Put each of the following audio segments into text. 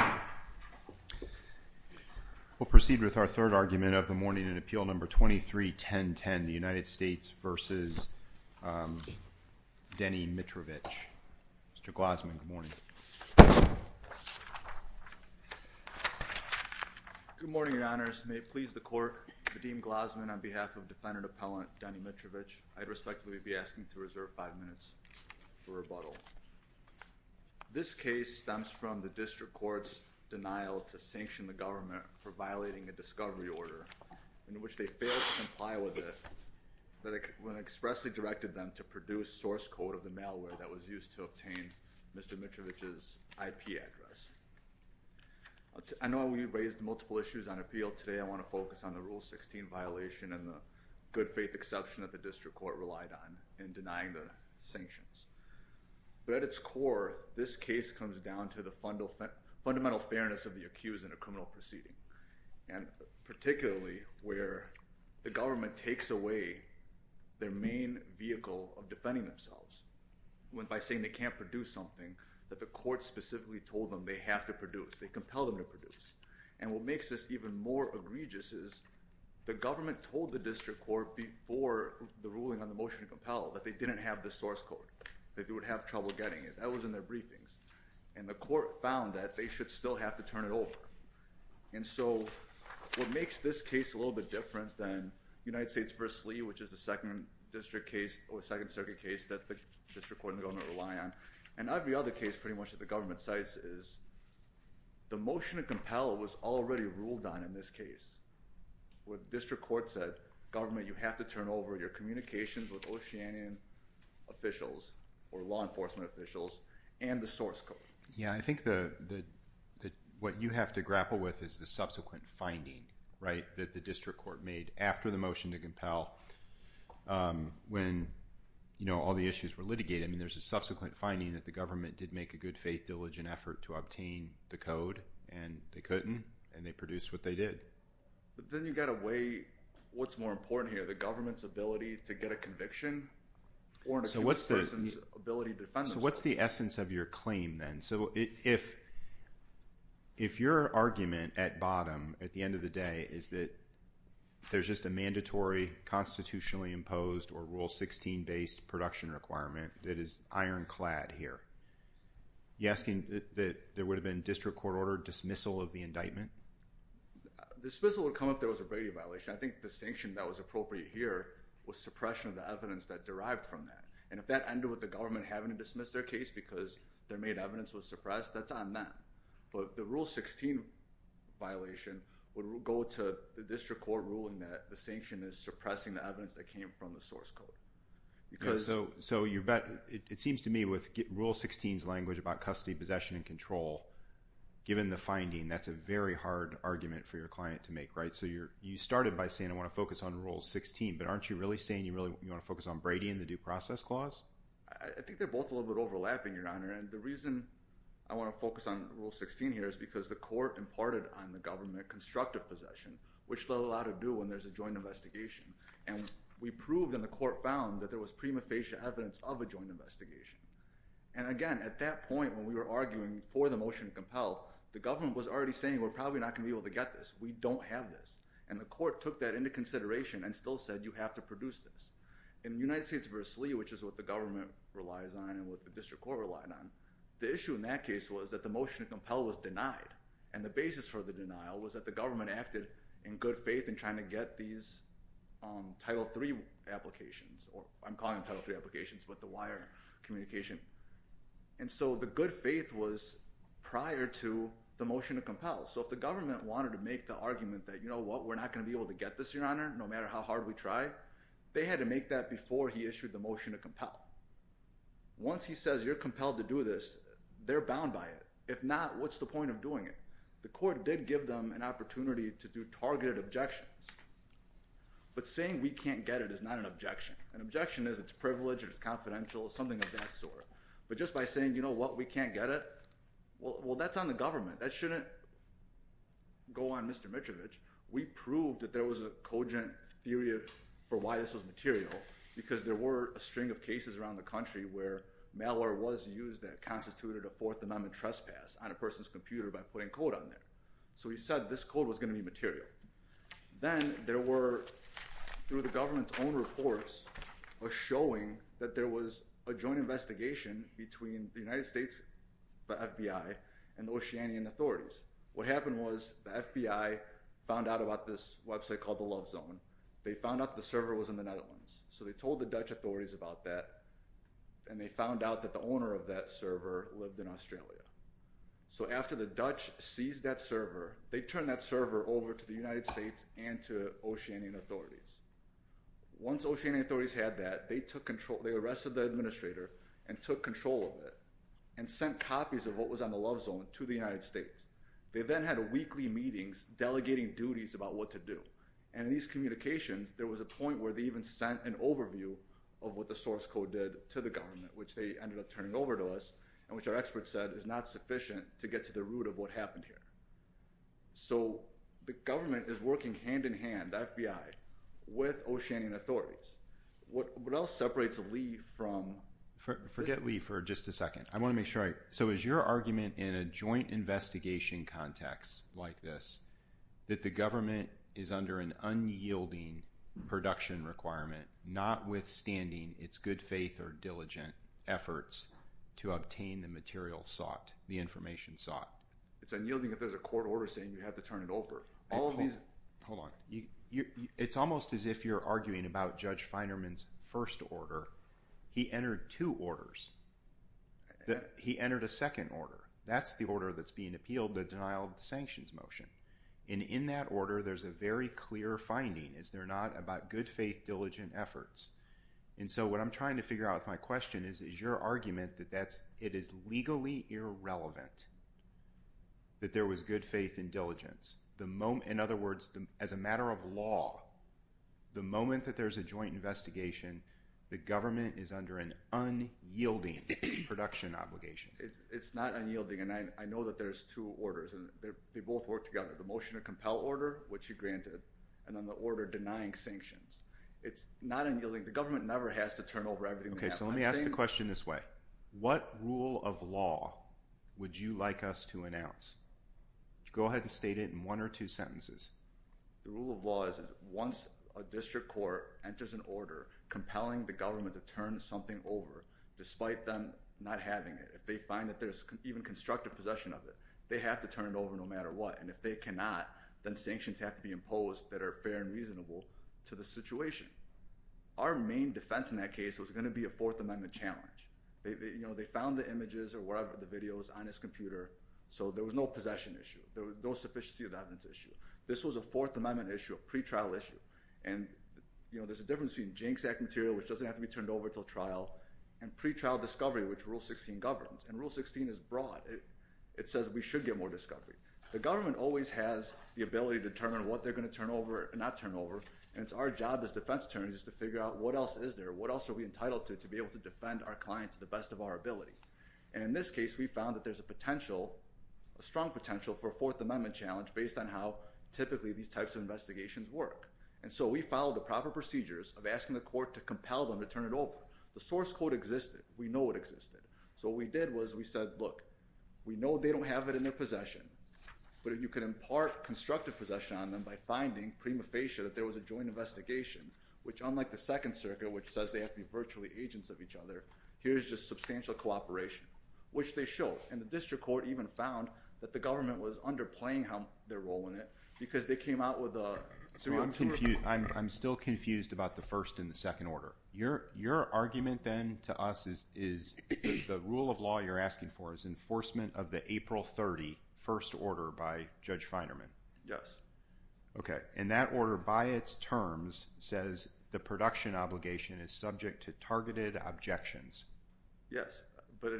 Mr. Glosman, good morning. Good morning, Your Honors. May it please the Court, Vadim Glosman on behalf of Defendant Appellant Deny Mitrovich, I respectfully be honored to be here today. I want to begin by saying that I am not in favor of this denial to sanction the government for violating a discovery order in which they failed to comply with it when I expressly directed them to produce source code of the malware that was used to obtain Mr. Mitrovich's IP address. I know we raised multiple issues on appeal today. I want to focus on the Rule 16 violation and the good faith exception that the District But at its core, this case comes down to the fundamental fairness of the accused in a criminal proceeding, and particularly where the government takes away their main vehicle of defending themselves by saying they can't produce something that the court specifically told them they have to produce. They compel them to produce. And what makes this even more egregious is the government told the District Court before the ruling on the motion to compel that they didn't have the source code, that they would have trouble getting it. That was in their briefings. And the court found that they should still have to turn it over. And so what makes this case a little bit different than United States v. Lee, which is the second district case or second circuit case that the District Court and the government rely on, and every other case pretty much that the government cites is the motion to compel was already ruled on in this case. What the District Court said, government, you have to turn over your communications with Oceanian officials or law enforcement officials and the source code. Yeah, I think that what you have to grapple with is the subsequent finding, right, that the District Court made after the motion to compel when, you know, all the issues were litigated. I mean, there's a subsequent finding that the government did make a good faith diligent effort to obtain the code, and they couldn't, and they produced what they did. But then you've got to weigh what's more important here, the government's ability to get a conviction or an accused person's ability to defend themselves. So what's the essence of your claim then? So if your argument at bottom, at the end of the day, is that there's just a mandatory constitutionally imposed or Rule 16 based production requirement that is ironclad here, you're asking that there would have been District Court-ordered dismissal of the indictment? Dismissal would come if there was a brevity violation. I think the sanction that was appropriate here was suppression of the evidence that derived from that. And if that ended with the government having to dismiss their case because their made evidence was suppressed, that's on them. But the Rule 16 violation would go to the District Court ruling that the sanction is suppressing the evidence that came from the source code. So it seems to me with Rule 16's language about custody, possession, and control, given the finding, that's a very hard argument for your client to make, right? So you started by saying, I want to focus on Rule 16, but aren't you really saying you want to focus on Brady and the due process clause? I think they're both a little bit overlapping, Your Honor. And the reason I want to focus on Rule 16 here is because the court imparted on the government constructive possession, which they'll allow to do when there's a joint investigation. And we proved and the court found that there was prima facie evidence of a joint investigation. And again, at that point when we were arguing for the motion to compel, the government was already saying we're probably not going to be able to get this. We don't have this. And the court took that into consideration and still said you have to produce this. In United States v. Lee, which is what the government relies on and what the District Court relied on, the issue in that case was that the motion to compel was denied. And the basis for the denial was that the government acted in good faith in trying to get these Title III applications or I'm calling them Title III applications, but the wire communication. And so the good faith was prior to the motion to compel. So if the government wanted to make the argument that, you know what, we're not going to be able to get this, Your Honor, no matter how hard we try, they had to make that before he issued the motion to compel. Once he says you're compelled to do this, they're bound by it. If not, what's the point of doing it? The court did give them an opportunity to do targeted objections. But saying we can't get it is not an objection. An objection is it's privileged, it's confidential, something of that sort. But just by saying, you know what, we can't get it, well, that's on the government. That shouldn't go on Mr. Mitrovich. We proved that there was a cogent theory for why this was material because there were a string of cases around the country where malware was used that constituted a Fourth Amendment trespass on a person's computer by putting code on there. So he said this code was going to be material. Then there were, through the government's own reports, a showing that there was a joint investigation between the United States, the FBI, and the Oceanian authorities. What happened was the FBI found out about this website called the Love Zone. They found out the server was in the Netherlands. So they told the Dutch authorities about that and they found out that the owner of that server lived in Australia. So after the Dutch seized that server, they turned that server over to the United States and to Oceanian authorities. Once Oceanian authorities had that, they arrested the administrator and took control of it and sent copies of what was on the Love Zone to the United States. They then had weekly meetings delegating duties about what to do. In these communications, there was a point where they even sent an overview of what the source code did to the government, which they ended up turning over to us and which our experts said is not sufficient to get to the root of what happened here. So the government is working hand-in-hand, the FBI, with Oceanian authorities. What else separates Lee from... Forget Lee for just a second. I want to make sure I... So is your argument in a joint investigation context like this that the government is under an unyielding production requirement, notwithstanding its good faith or diligent efforts to obtain the material sought, the information sought? It's unyielding if there's a court order saying you have to turn it over. Hold on. It's almost as if you're arguing about Judge Feinerman's first order. He entered two orders. He entered a second order. That's the order that's being appealed, the denial of the sanctions motion. And in that order, there's a very clear finding, is there not, about good faith, diligent efforts. And so what I'm trying to figure out with my question is, is your argument that it is legally irrelevant that there was good faith and diligence? In other words, as a matter of law, the moment that there's a joint investigation, the government is under an unyielding production obligation. It's not unyielding, and I know that there's two orders, and they both work together. The motion to compel order, which you granted, and then the order denying sanctions. It's not unyielding. The government never has to turn over everything. Okay, so let me ask the question this way. What rule of law would you like us to announce? Go ahead and state it in one or two sentences. The rule of law is once a district court enters an order compelling the government to turn something over, despite them not having it, if they find that there's even constructive possession of it, they have to turn it over no matter what. And if they cannot, then sanctions have to be imposed that are fair and reasonable to the situation. Our main defense in that case was going to be a Fourth Amendment challenge. They found the images or whatever, the videos on his computer, so there was no possession issue. There was no sufficiency of evidence issue. This was a Fourth Amendment issue, a pretrial issue, and there's a difference between JANCS Act material, which doesn't have to be turned over until trial, and pretrial discovery, which Rule 16 governs. And Rule 16 is broad. It says we should get more discovery. The government always has the ability to determine what they're going to turn over and not turn over, and it's our job as defense attorneys to figure out what else is there, what else are we entitled to, to be able to defend our client to the best of our ability. And in this case, we found that there's a potential, a strong potential for a Fourth Amendment challenge based on how typically these types of investigations work. And so we followed the proper procedures of asking the court to compel them to turn it over. The source code existed. We know it existed. So what we did was we said, look, we know they don't have it in their possession, but if you could impart constructive possession on them by finding prima facie that there was a joint investigation, which unlike the Second Circuit, which says they have to be virtually agents of each other, here's just substantial cooperation, which they showed. And the district court even found that the government was underplaying their role in it because they came out with a... I'm still confused about the first and the second order. Your argument then to us is the rule of law you're asking for is enforcement of the April 30 First Order by Judge Feinerman. Yes. Okay. And that order by its terms says the production obligation is subject to targeted objections. Yes. But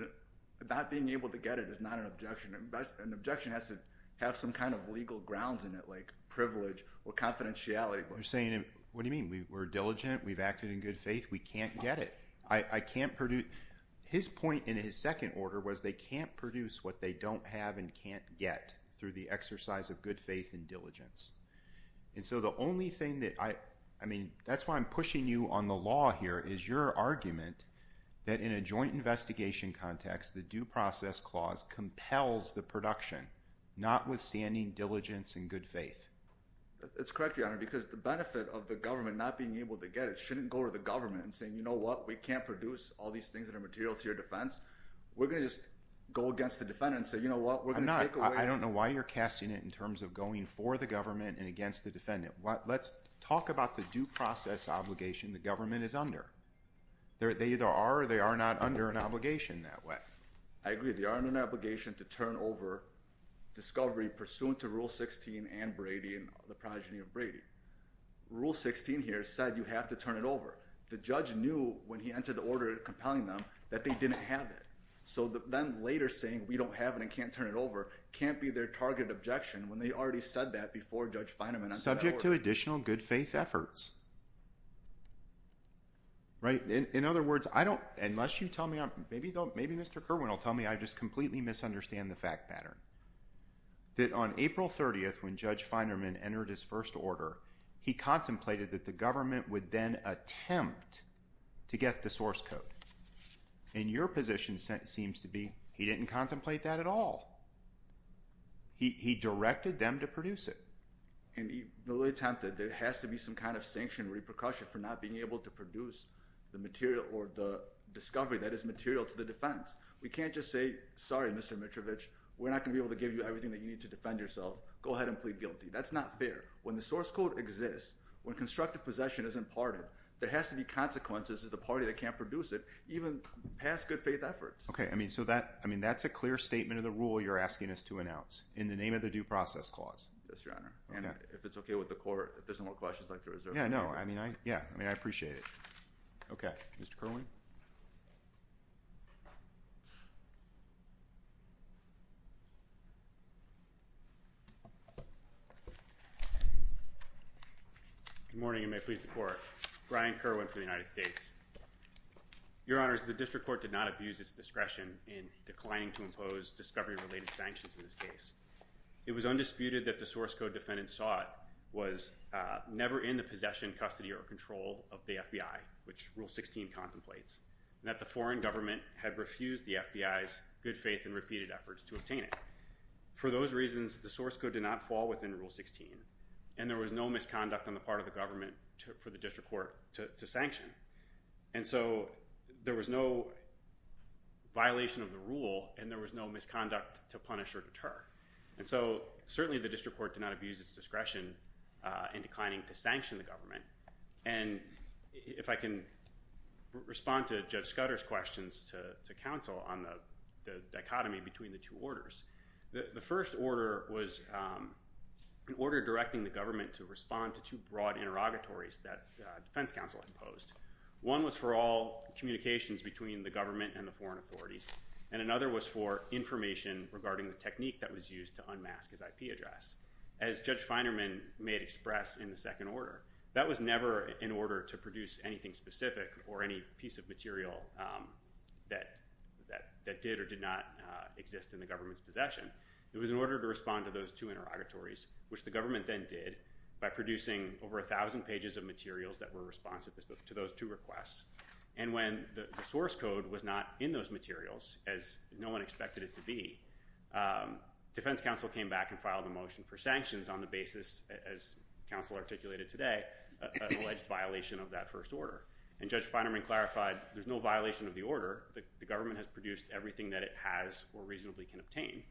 not being able to get it is not an objection. An objection has to have some kind of legal grounds in it, like privilege or confidentiality. You're saying, what do you mean? We're diligent. We've acted in good faith. We can't get it. I can't produce... His point in his second order was they can't produce what they don't have and can't get through the exercise of good faith and diligence. And so the only thing that... I mean, that's why I'm pushing you on the law here, is your argument that in a joint investigation context, the due process clause compels the production, not withstanding diligence and good faith. That's correct, Your Honor, because the benefit of the government not being able to get it shouldn't go to the government and saying, you know what, we can't produce all these things that are material to your defense. We're going to just go against the defendant and say, you know what, we're going to take away... I'm not. I don't know why you're casting it in terms of going for the government and going against the defendant. Let's talk about the due process obligation the government is under. They either are or they are not under an obligation that way. I agree. They are under an obligation to turn over discovery pursuant to Rule 16 and Brady and the progeny of Brady. Rule 16 here said you have to turn it over. The judge knew when he entered the order compelling them that they didn't have it. So then later saying we don't have it and can't turn it over can't be their target objection when they already said that before Judge Feinerman... Subject to additional good faith efforts. In other words, unless you tell me, maybe Mr. Kerwin will tell me I just completely misunderstand the fact pattern. That on April 30th when Judge Feinerman entered his first order, he contemplated that the government would then attempt to get the source code. And your position seems to be he didn't contemplate that at all. He directed them to produce it. And he really attempted. There has to be some kind of sanction repercussion for not being able to produce the material or the discovery that is material to the defense. We can't just say, sorry, Mr. Mitrovich, we're not going to be able to give you everything that you need to defend yourself. Go ahead and plead guilty. That's not fair. When the source code exists, when constructive possession is imparted, there has to be consequences of the party that can't produce it even past good faith efforts. Okay. I mean, so that, I mean, that's a clear statement of the rule you're asking us to announce in the name of the due process clause. Yes, Your Honor. And if it's okay with the court, if there's no more questions, I'd like to reserve the floor. Yeah, no, I mean, I, yeah, I mean, I appreciate it. Okay. Mr. Kerwin. Good morning and may it please the court. Brian Kerwin for the United States. Your Honor, the district court did not abuse its discretion in declining to impose discovery related sanctions in this case. It was undisputed that the source code defendant sought was never in the possession, custody, or control of the FBI, which rule 16 contemplates, and that the foreign government had refused the FBI's good faith and repeated efforts to obtain it. For those reasons, the source code did not fall within rule 16, and there was no misconduct on the part of the government for the district court to sanction. And so there was no violation of the rule and there was no misconduct to punish or deter. And so certainly the district court did not abuse its discretion in declining to sanction the government. And if I can respond to Judge Scudder's questions to counsel on the dichotomy between the two orders, the first order was an order directing the government to respond to two broad interrogatories that defense counsel imposed. One was for all communications between the government and the foreign authorities, and another was for information regarding the technique that was used to unmask his IP address. As Judge Feinerman made express in the second order, that was never in order to produce anything specific or any piece of material that did or did not exist in the government's possession. It was in order to respond to those two interrogatories, which the government then did by producing over 1,000 pages of materials that were responsive to those two requests. And when the source code was not in those materials, as no one expected it to be, defense counsel came back and filed a motion for sanctions on the basis, as counsel articulated today, alleged violation of that first order. And Judge Feinerman clarified there's no violation of the order. The government has produced everything that it has or reasonably can obtain.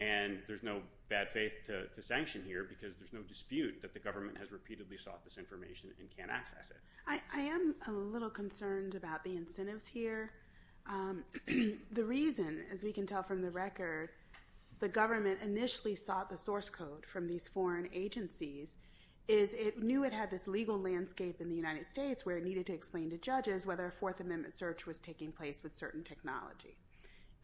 And there's no bad faith to sanction here, because there's no dispute that the government has repeatedly sought this information and can't access it. I am a little concerned about the incentives here. The reason, as we can tell from the record, the government initially sought the source code from these foreign agencies is it knew it had this legal landscape in the United States where it needed to explain to judges whether a Fourth Amendment search was taking place with certain technology.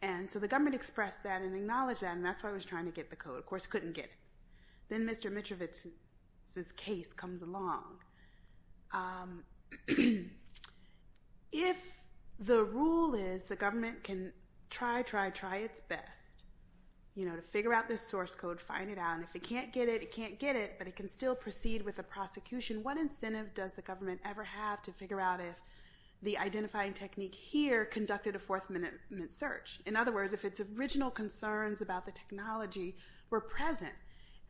And so the government expressed that and acknowledged that. And that's why it was trying to get the code. Of course, it couldn't get it. Then Mr. Mitrovich's case comes along. If the rule is the government can try, try, try its best to figure out this source code, find it out. And if it can't get it, it can't get it. But it can still proceed with a prosecution. What incentive does the government ever have to figure out if the identifying technique here conducted a Fourth Amendment search? In other words, if its original concerns about the technology were present,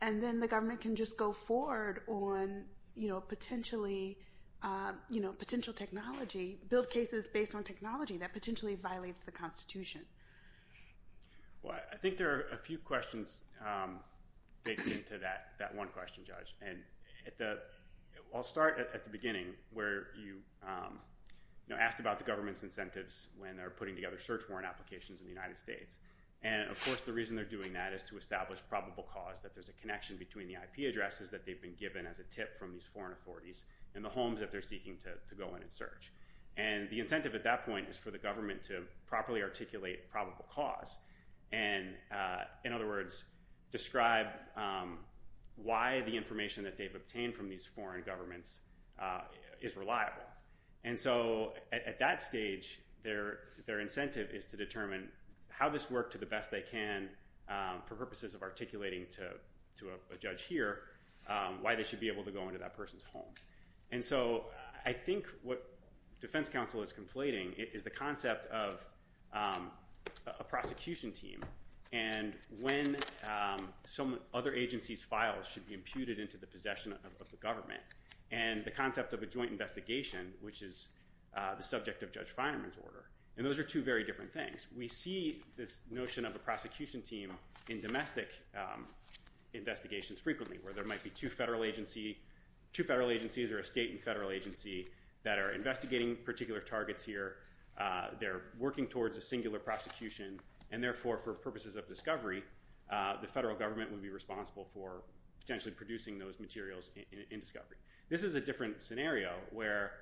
and then the government can just go forward on potential technology, build cases based on technology that potentially violates the Constitution? Well, I think there are a few questions baked into that one question, Judge. And I'll start at the beginning where you asked about the government's incentives when they're putting together search warrant applications in the United States. And, of course, the reason they're doing that is to establish probable cause, that there's a connection between the IP addresses that they've been given as a tip from these foreign authorities and the homes that they're seeking to go in and search. And the incentive at that point is for the government to properly articulate probable cause. And, in other words, describe why the is reliable. And so, at that stage, their incentive is to determine how this worked to the best they can for purposes of articulating to a judge here why they should be able to go into that person's home. And so I think what defense counsel is conflating is the concept of a prosecution team and when some other agency's files should be imputed into the possession of the government. And the concept of a joint investigation, which is the subject of Judge Finerman's order. And those are two very different things. We see this notion of a prosecution team in domestic investigations frequently where there might be two federal agencies or a state and federal agency that are investigating particular targets here. They're working towards a singular prosecution. And, therefore, for purposes of discovery, the federal government would be responsible for potentially producing those materials in discovery. This is a different scenario where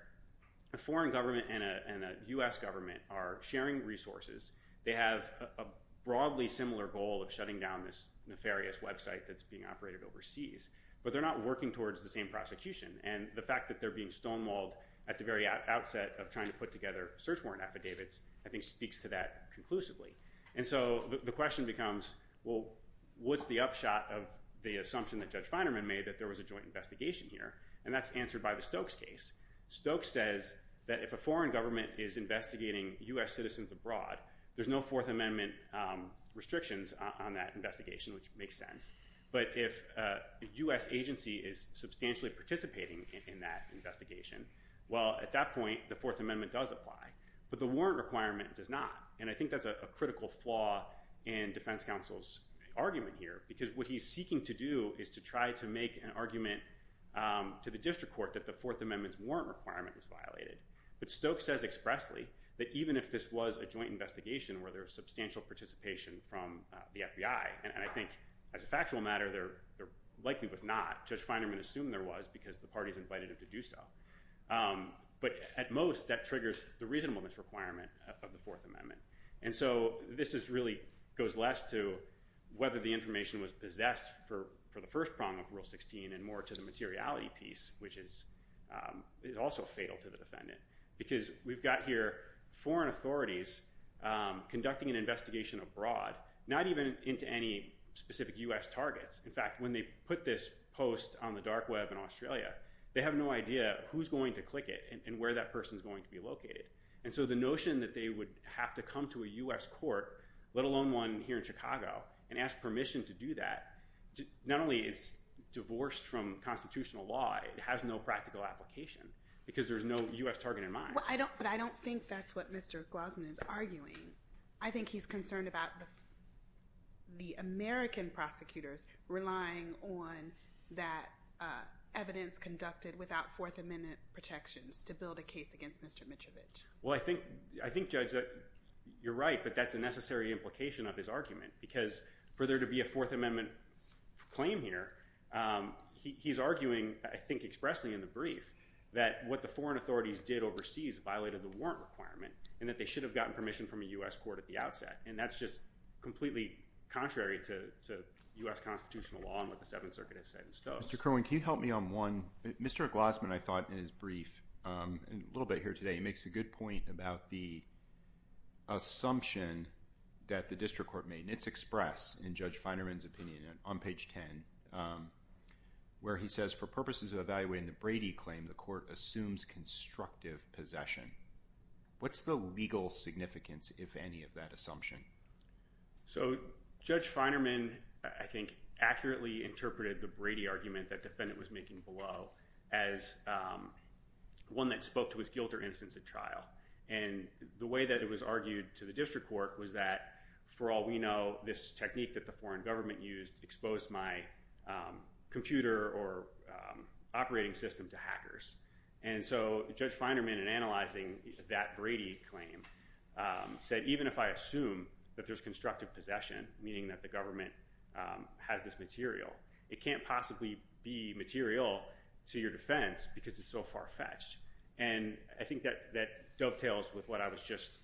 a foreign government and a U.S. government are sharing resources. They have a broadly similar goal of shutting down this nefarious website that's being operated overseas. But they're not working towards the same prosecution. And the fact that they're being stonewalled at the very outset of trying to put together search warrant affidavits, I think, speaks to that conclusively. And so the question becomes, well, what's the upshot of the assumption that Judge Finerman made that there was a joint investigation here? And that's answered by the Stokes case. Stokes says that if a foreign government is investigating U.S. citizens abroad, there's no Fourth Amendment restrictions on that investigation, which makes sense. But if a U.S. agency is substantially participating in that investigation, well, at that point, the Fourth Amendment does apply. But the warrant requirement does not. And I think that's a critical flaw in defense counsel's argument here. Because what he's seeking to do is to try to make an argument to the district court that the Fourth Amendment's warrant requirement was violated. But Stokes says expressly that even if this was a joint investigation where there was substantial participation from the FBI, and I think as a factual matter, there likely was not. Judge Finerman assumed there was because the parties invited him to do so. But at most, that triggers the reasonableness requirement of the Fourth Amendment. And so this really goes less to whether the information was possessed for the first prong of Rule 16 and more to the materiality piece, which is also fatal to the defendant. Because we've got here foreign authorities conducting an investigation abroad, not even into any specific U.S. targets. In fact, when they put this post on the dark web in Australia, they have no idea who's going to click it and where that person's going to be located. And so the notion that they would have to come to a U.S. court, let alone one here in Chicago, and ask permission to do that, not only is divorced from constitutional law, it has no practical application. Because there's no U.S. target in mind. But I don't think that's what Mr. Glossman is arguing. I think he's concerned about the American prosecutors relying on that evidence conducted without Fourth Amendment protections to build a case against Mr. Mitrovich. Well, I think, Judge, you're right, but that's a necessary implication of his argument. Because for there to be a Fourth Amendment claim here, he's arguing, I think expressly in the brief, that what the foreign authorities did overseas violated the warrant requirement and that they should have gotten permission from a U.S. court at the outset. And that's just completely contrary to U.S. constitutional law and what the Seventh Circuit has said in Stokes. Mr. Kerwin, can you help me on one? Mr. Glossman, I thought, in his brief, a little bit here today, he makes a good point about the assumption that the district court made, and it's expressed in Judge Feinerman's opinion on page 10, where he says, for purposes of evaluating the Brady claim, the court assumes constructive possession. What's the legal significance, if any, of that assumption? So Judge Feinerman, I think, accurately interpreted the Brady argument that defendant was making below as one that spoke to his guilt or innocence at trial. And the way that it was argued to the district court was that, for all we know, this technique that the foreign government used exposed my computer or operating system to hackers. And so Judge Feinerman, in analyzing that Brady claim, said, even if I assume that there's constructive possession, meaning that the government has this material, it can't possibly be material to your defense because it's so far-fetched. And I think that dovetails with what I was just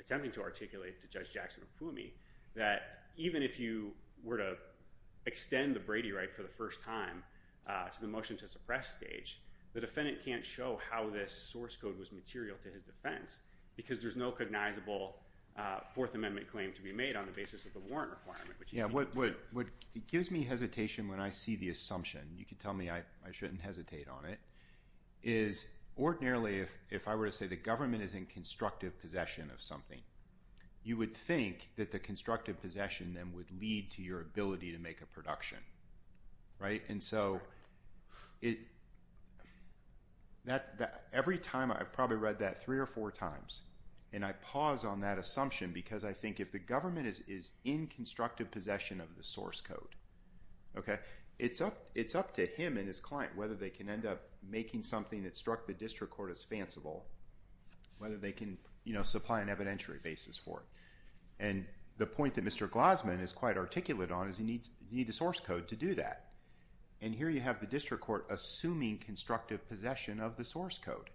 attempting to articulate to Judge Jackson of Pumi, that even if you were to extend the Brady right for the first time to the motion to suppress stage, the defendant can't show how this source code was material to his defense because there's no cognizable Fourth Amendment claim to be made on the basis of the warrant requirement. Yeah, what gives me hesitation when I see the assumption, you can tell me I shouldn't hesitate on it, is ordinarily, if I were to say the government is in constructive possession of something, you would think that the constructive possession then would lead to your ability to make a production. And so every time, I've probably read that three or four times, and I pause on that assumption because I think if the government is in constructive possession of the source code, it's up to him and his client whether they can end up making something that struck the district court as fanciful, whether they can supply an evidentiary basis for it. And the point that Mr. Glossman is quite articulate on is you need the source code to do that. And here you have the district court assuming constructive possession of the source code.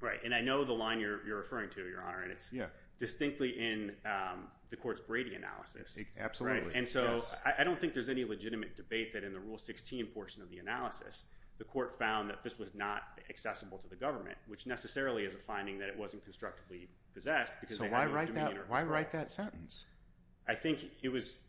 Right, and I know the line you're referring to, Your Honor, and it's distinctly in the court's Brady analysis. Absolutely. Right, and so I don't think there's any legitimate debate that in the Rule 16 portion of the analysis, the court found that this was not accessible to the government, which necessarily is a finding that it wasn't constructively possessed. So why write that sentence? I think it was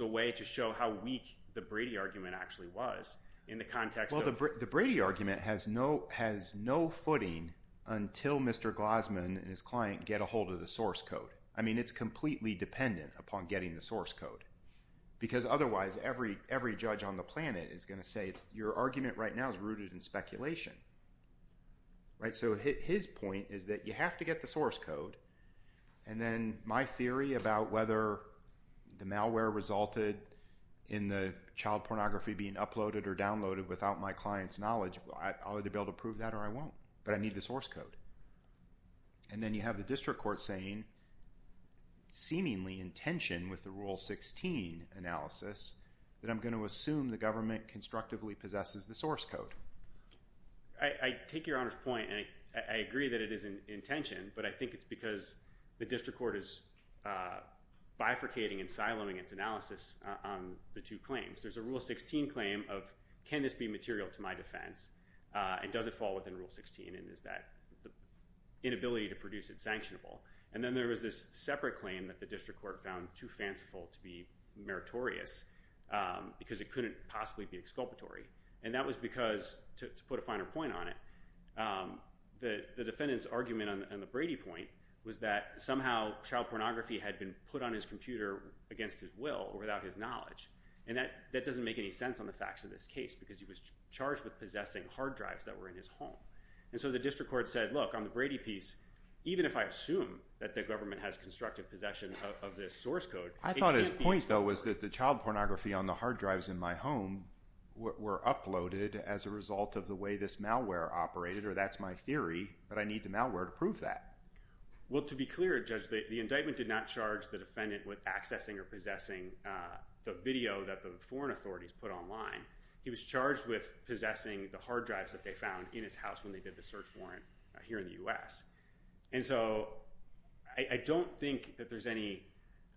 a way to show how weak the Brady argument actually was in the context of- Well, the Brady argument has no footing until Mr. Glossman and his client get a hold of the source code. I mean, it's completely dependent upon getting the source code because otherwise every judge on the planet is going to say your argument right now is rooted in speculation. Right, so his point is that you have to get the source code, and then my theory about whether the malware resulted in the child pornography being uploaded or downloaded without my client's knowledge, I'll either be able to prove that or I won't, but I need the source code. And then you have the district court saying, seemingly in tension with the Rule 16 analysis, that I'm going to assume the government constructively possesses the source code. I take Your Honor's point, and I agree that it is in tension, but I think it's because the district court is bifurcating and siloing its analysis on the two claims. There's a Rule 16 claim of, can this be material to my defense, and does it fall within Rule 16, and is that inability to produce it sanctionable? And then there was this separate claim that the district court found too fanciful to be meritorious because it couldn't possibly be exculpatory, and that was because, to put a finer point on it, the defendant's argument on the Brady point was that somehow child pornography had been put on his computer against his will or without his knowledge, and that doesn't make any sense on the facts of this case because he was charged with possessing hard drives that were in his home. And so the district court said, look, on the Brady piece, even if I assume that the government has constructive possession of this source code, it can't be exculpatory. I thought his point, though, was that the child pornography on the hard drives in my home were uploaded as a result of the way this malware operated, or that's my theory, but I need the malware to prove that. Well, to be clear, Judge, the indictment did not charge the defendant with accessing or possessing the video that the foreign authorities put online. He was charged with possessing the hard drives that they found in his house when they did the search warrant here in the I don't think that there's any...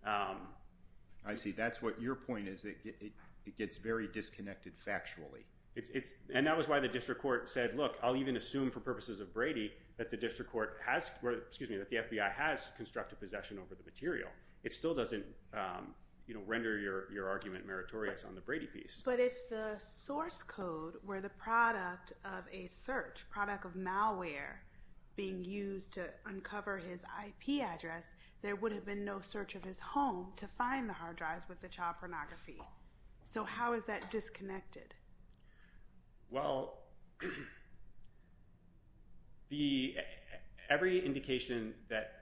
I see. That's what your point is, that it gets very disconnected factually. And that was why the district court said, look, I'll even assume for purposes of Brady that the FBI has constructive possession over the material. It still doesn't render your argument meritorious on the Brady piece. But if the source code were the product of a search, product of malware being used to discover his IP address, there would have been no search of his home to find the hard drives with the child pornography. So how is that disconnected? Well, every indication that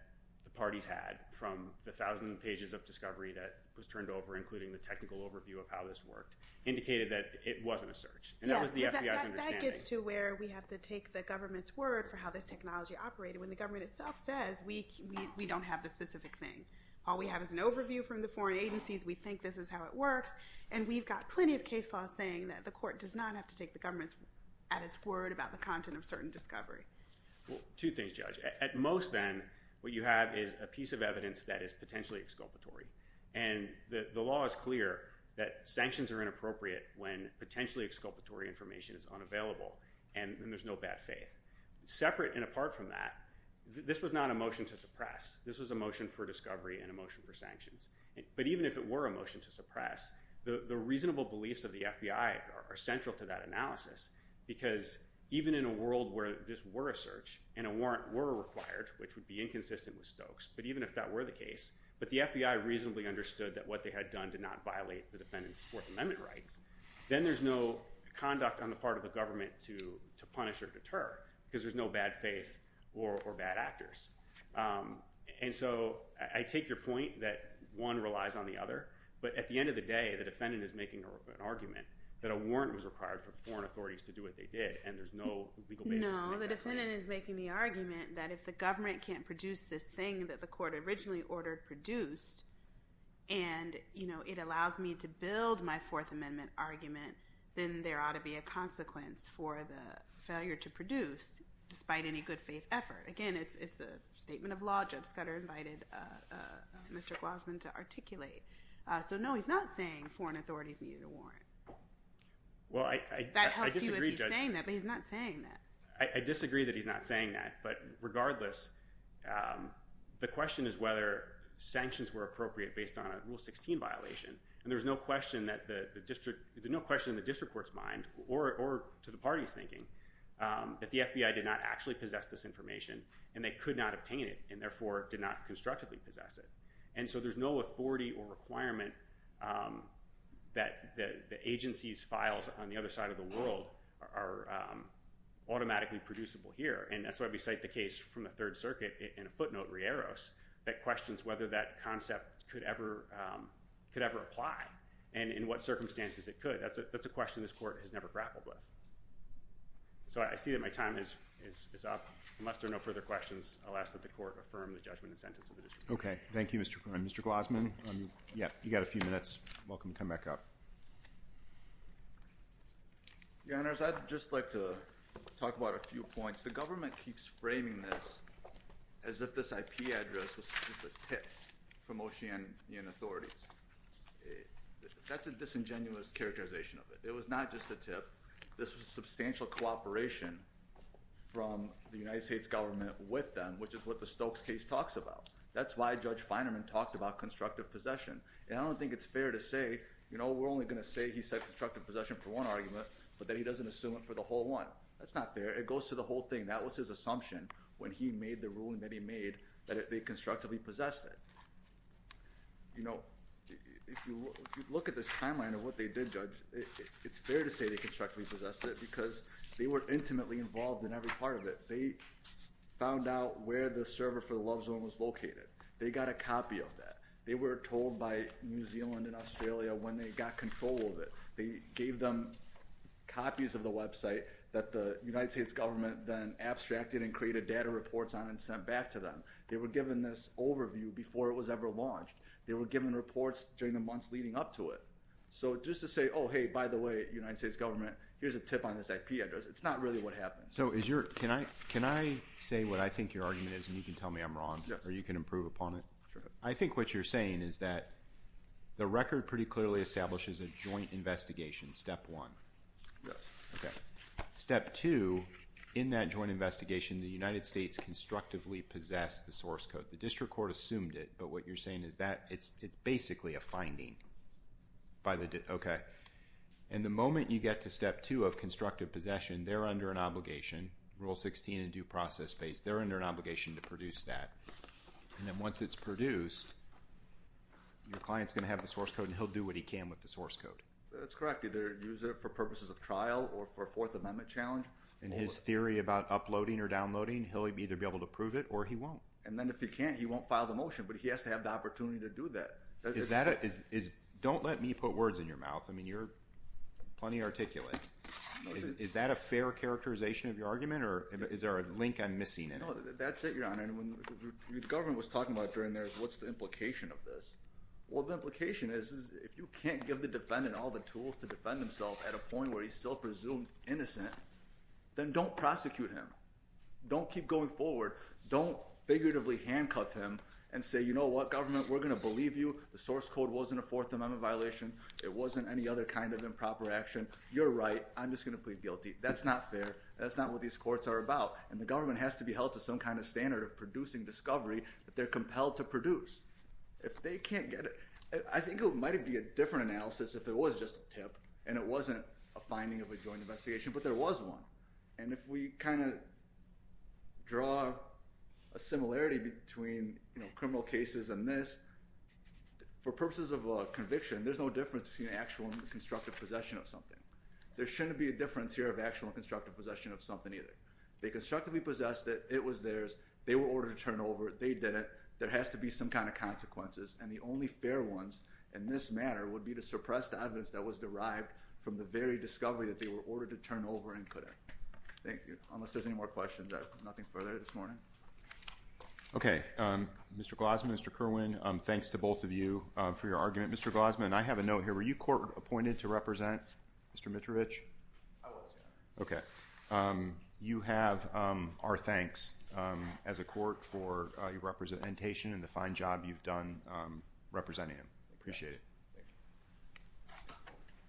the parties had from the thousand pages of discovery that was turned over, including the technical overview of how this worked, indicated that it wasn't a search, and that was the FBI's understanding. Yeah, but that gets to where we have to take the government's word for how this technology operated when the government itself says we don't have the specific thing. All we have is an overview from the foreign agencies. We think this is how it works. And we've got plenty of case laws saying that the court does not have to take the government's at its word about the content of certain discovery. Well, two things, Judge. At most then, what you have is a piece of evidence that is potentially exculpatory. And the law is clear that sanctions are inappropriate when potentially exculpatory information is unavailable. And there's no bad faith. Separate and apart from that, this was not a motion to suppress. This was a motion for discovery and a motion for sanctions. But even if it were a motion to suppress, the reasonable beliefs of the FBI are central to that analysis because even in a world where this were a search and a warrant were required, which would be inconsistent with Stokes, but even if that were the case, but the FBI reasonably understood that what they had done did not conduct on the part of the government to punish or deter because there's no bad faith or bad actors. And so I take your point that one relies on the other. But at the end of the day, the defendant is making an argument that a warrant was required for foreign authorities to do what they did. And there's no legal basis to make that claim. No, the defendant is making the argument that if the government can't produce this thing that the court originally ordered produced, and it allows me to build my Fourth Amendment argument, then there ought to be a consequence for the failure to produce despite any good faith effort. Again, it's a statement of law. Judge Scudder invited Mr. Guzman to articulate. So no, he's not saying foreign authorities needed a warrant. Well, I disagree, Judge. That helps you if he's saying that, but he's not saying that. I disagree that he's not saying that. But regardless, the question is whether sanctions were appropriate based on a Rule 16 violation. And there's no question in the district court's mind, or to the party's thinking, that the FBI did not actually possess this information, and they could not obtain it, and therefore did not constructively possess it. And so there's no authority or requirement that the agency's files on the other side of the world are automatically producible here. And that's why we cite the case from the Third Circuit in a footnote, Rieros, that questions whether that concept could ever apply and in what circumstances it could. That's a question this court has never grappled with. So I see that my time is up. Unless there are no further questions, I'll ask that the court affirm the judgment and sentence of the district court. Okay. Thank you, Mr. Guzman. You've got a few minutes. You're welcome to come back up. Your Honors, I'd just like to talk about a few points. The government keeps framing this as if this IP address was just a tip from Oceanian authorities. That's a disingenuous characterization of it. It was not just a tip. This was substantial cooperation from the United States government with them, which is what the Stokes case talks about. That's why Judge Finerman talked about constructive possession. And I don't think it's fair to say, you know, we're only going to say he said constructive possession for one argument, but that he doesn't assume it for the whole one. That's not fair. It goes to the whole thing. That was his assumption when he made the ruling that he made, that they constructively possessed it. You know, if you look at this timeline of what they did, Judge, it's fair to say they constructively possessed it because they were intimately involved in every part of it. They found out where the server for the love zone was located. They got a copy of that. They were told by New Zealand and Australia when they got control of it. They gave them copies of the website that the United States government then abstracted and created data reports on and sent back to them. They were given this overview before it was ever launched. They were given reports during the months leading up to it. So just to say, oh, hey, by the way, United States government, here's a tip on this IP address. It's not really what happened. So is your, can I, can I say what I think your argument is and you can tell me I'm wrong or you can improve upon it? Sure. I think what you're saying is that the record pretty clearly establishes a joint investigation step one. Yes. Okay. Step two, in that joint investigation, the United States constructively possessed the source code. The district court assumed it, but what you're saying is that it's basically a finding by the, okay. And the moment you get to step two of constructive possession, they're under an obligation, rule 16 and due process based, they're under an obligation to produce that. And then once it's produced, your client's going to have the source code and he'll do what he can with the source code. That's correct. Either use it for purposes of trial or for a fourth amendment challenge. And his theory about uploading or downloading, he'll either be able to prove it or he won't. And then if he can't, he won't file the motion, but he has to have the opportunity to do that. Is that a, is, don't let me put words in your mouth. I mean, you're plenty articulate. Is that a fair characterization of your argument or is there a link I'm missing in it? No, that's it. Your Honor. And when the government was talking about during theirs, what's the implication of this? Well, the implication is, is if you can't give the defendant all the tools to defend himself at a point where he's still presumed innocent, then don't prosecute him. Don't keep going forward. Don't figuratively handcuff him and say, you know what government we're going to believe you. The source code wasn't a fourth amendment violation. It wasn't any other kind of improper action. You're right. I'm just going to plead guilty. That's not fair. That's not what these courts are about. And the government has to be held to some kind of standard of producing discovery that they're compelled to produce if they can't get it. I think it might've be a different analysis if it was just a tip and it wasn't a finding of a joint investigation, but there was one. And if we kind of draw a similarity between criminal cases and this for purposes of a conviction, there's no difference between actual and constructive possession of something. There shouldn't be a difference here of actual and constructive possession of something either. They constructively possessed it. It was theirs. They were ordered to turn over. They did it. There has to be some kind of consequences. And the only fair ones in this matter would be to suppress the evidence that was derived from the very discovery that they were ordered to turn over and couldn't. Thank you. Unless there's any more questions, nothing further this morning. Okay. Mr. Glossman, Mr. Kerwin, thanks to both of you for your argument. Mr. Glossman, I have a note here. Were you court appointed to represent Mr. Mitrovich? I was. Okay. You have our thanks as a court for your representation and the fine job you've done representing him.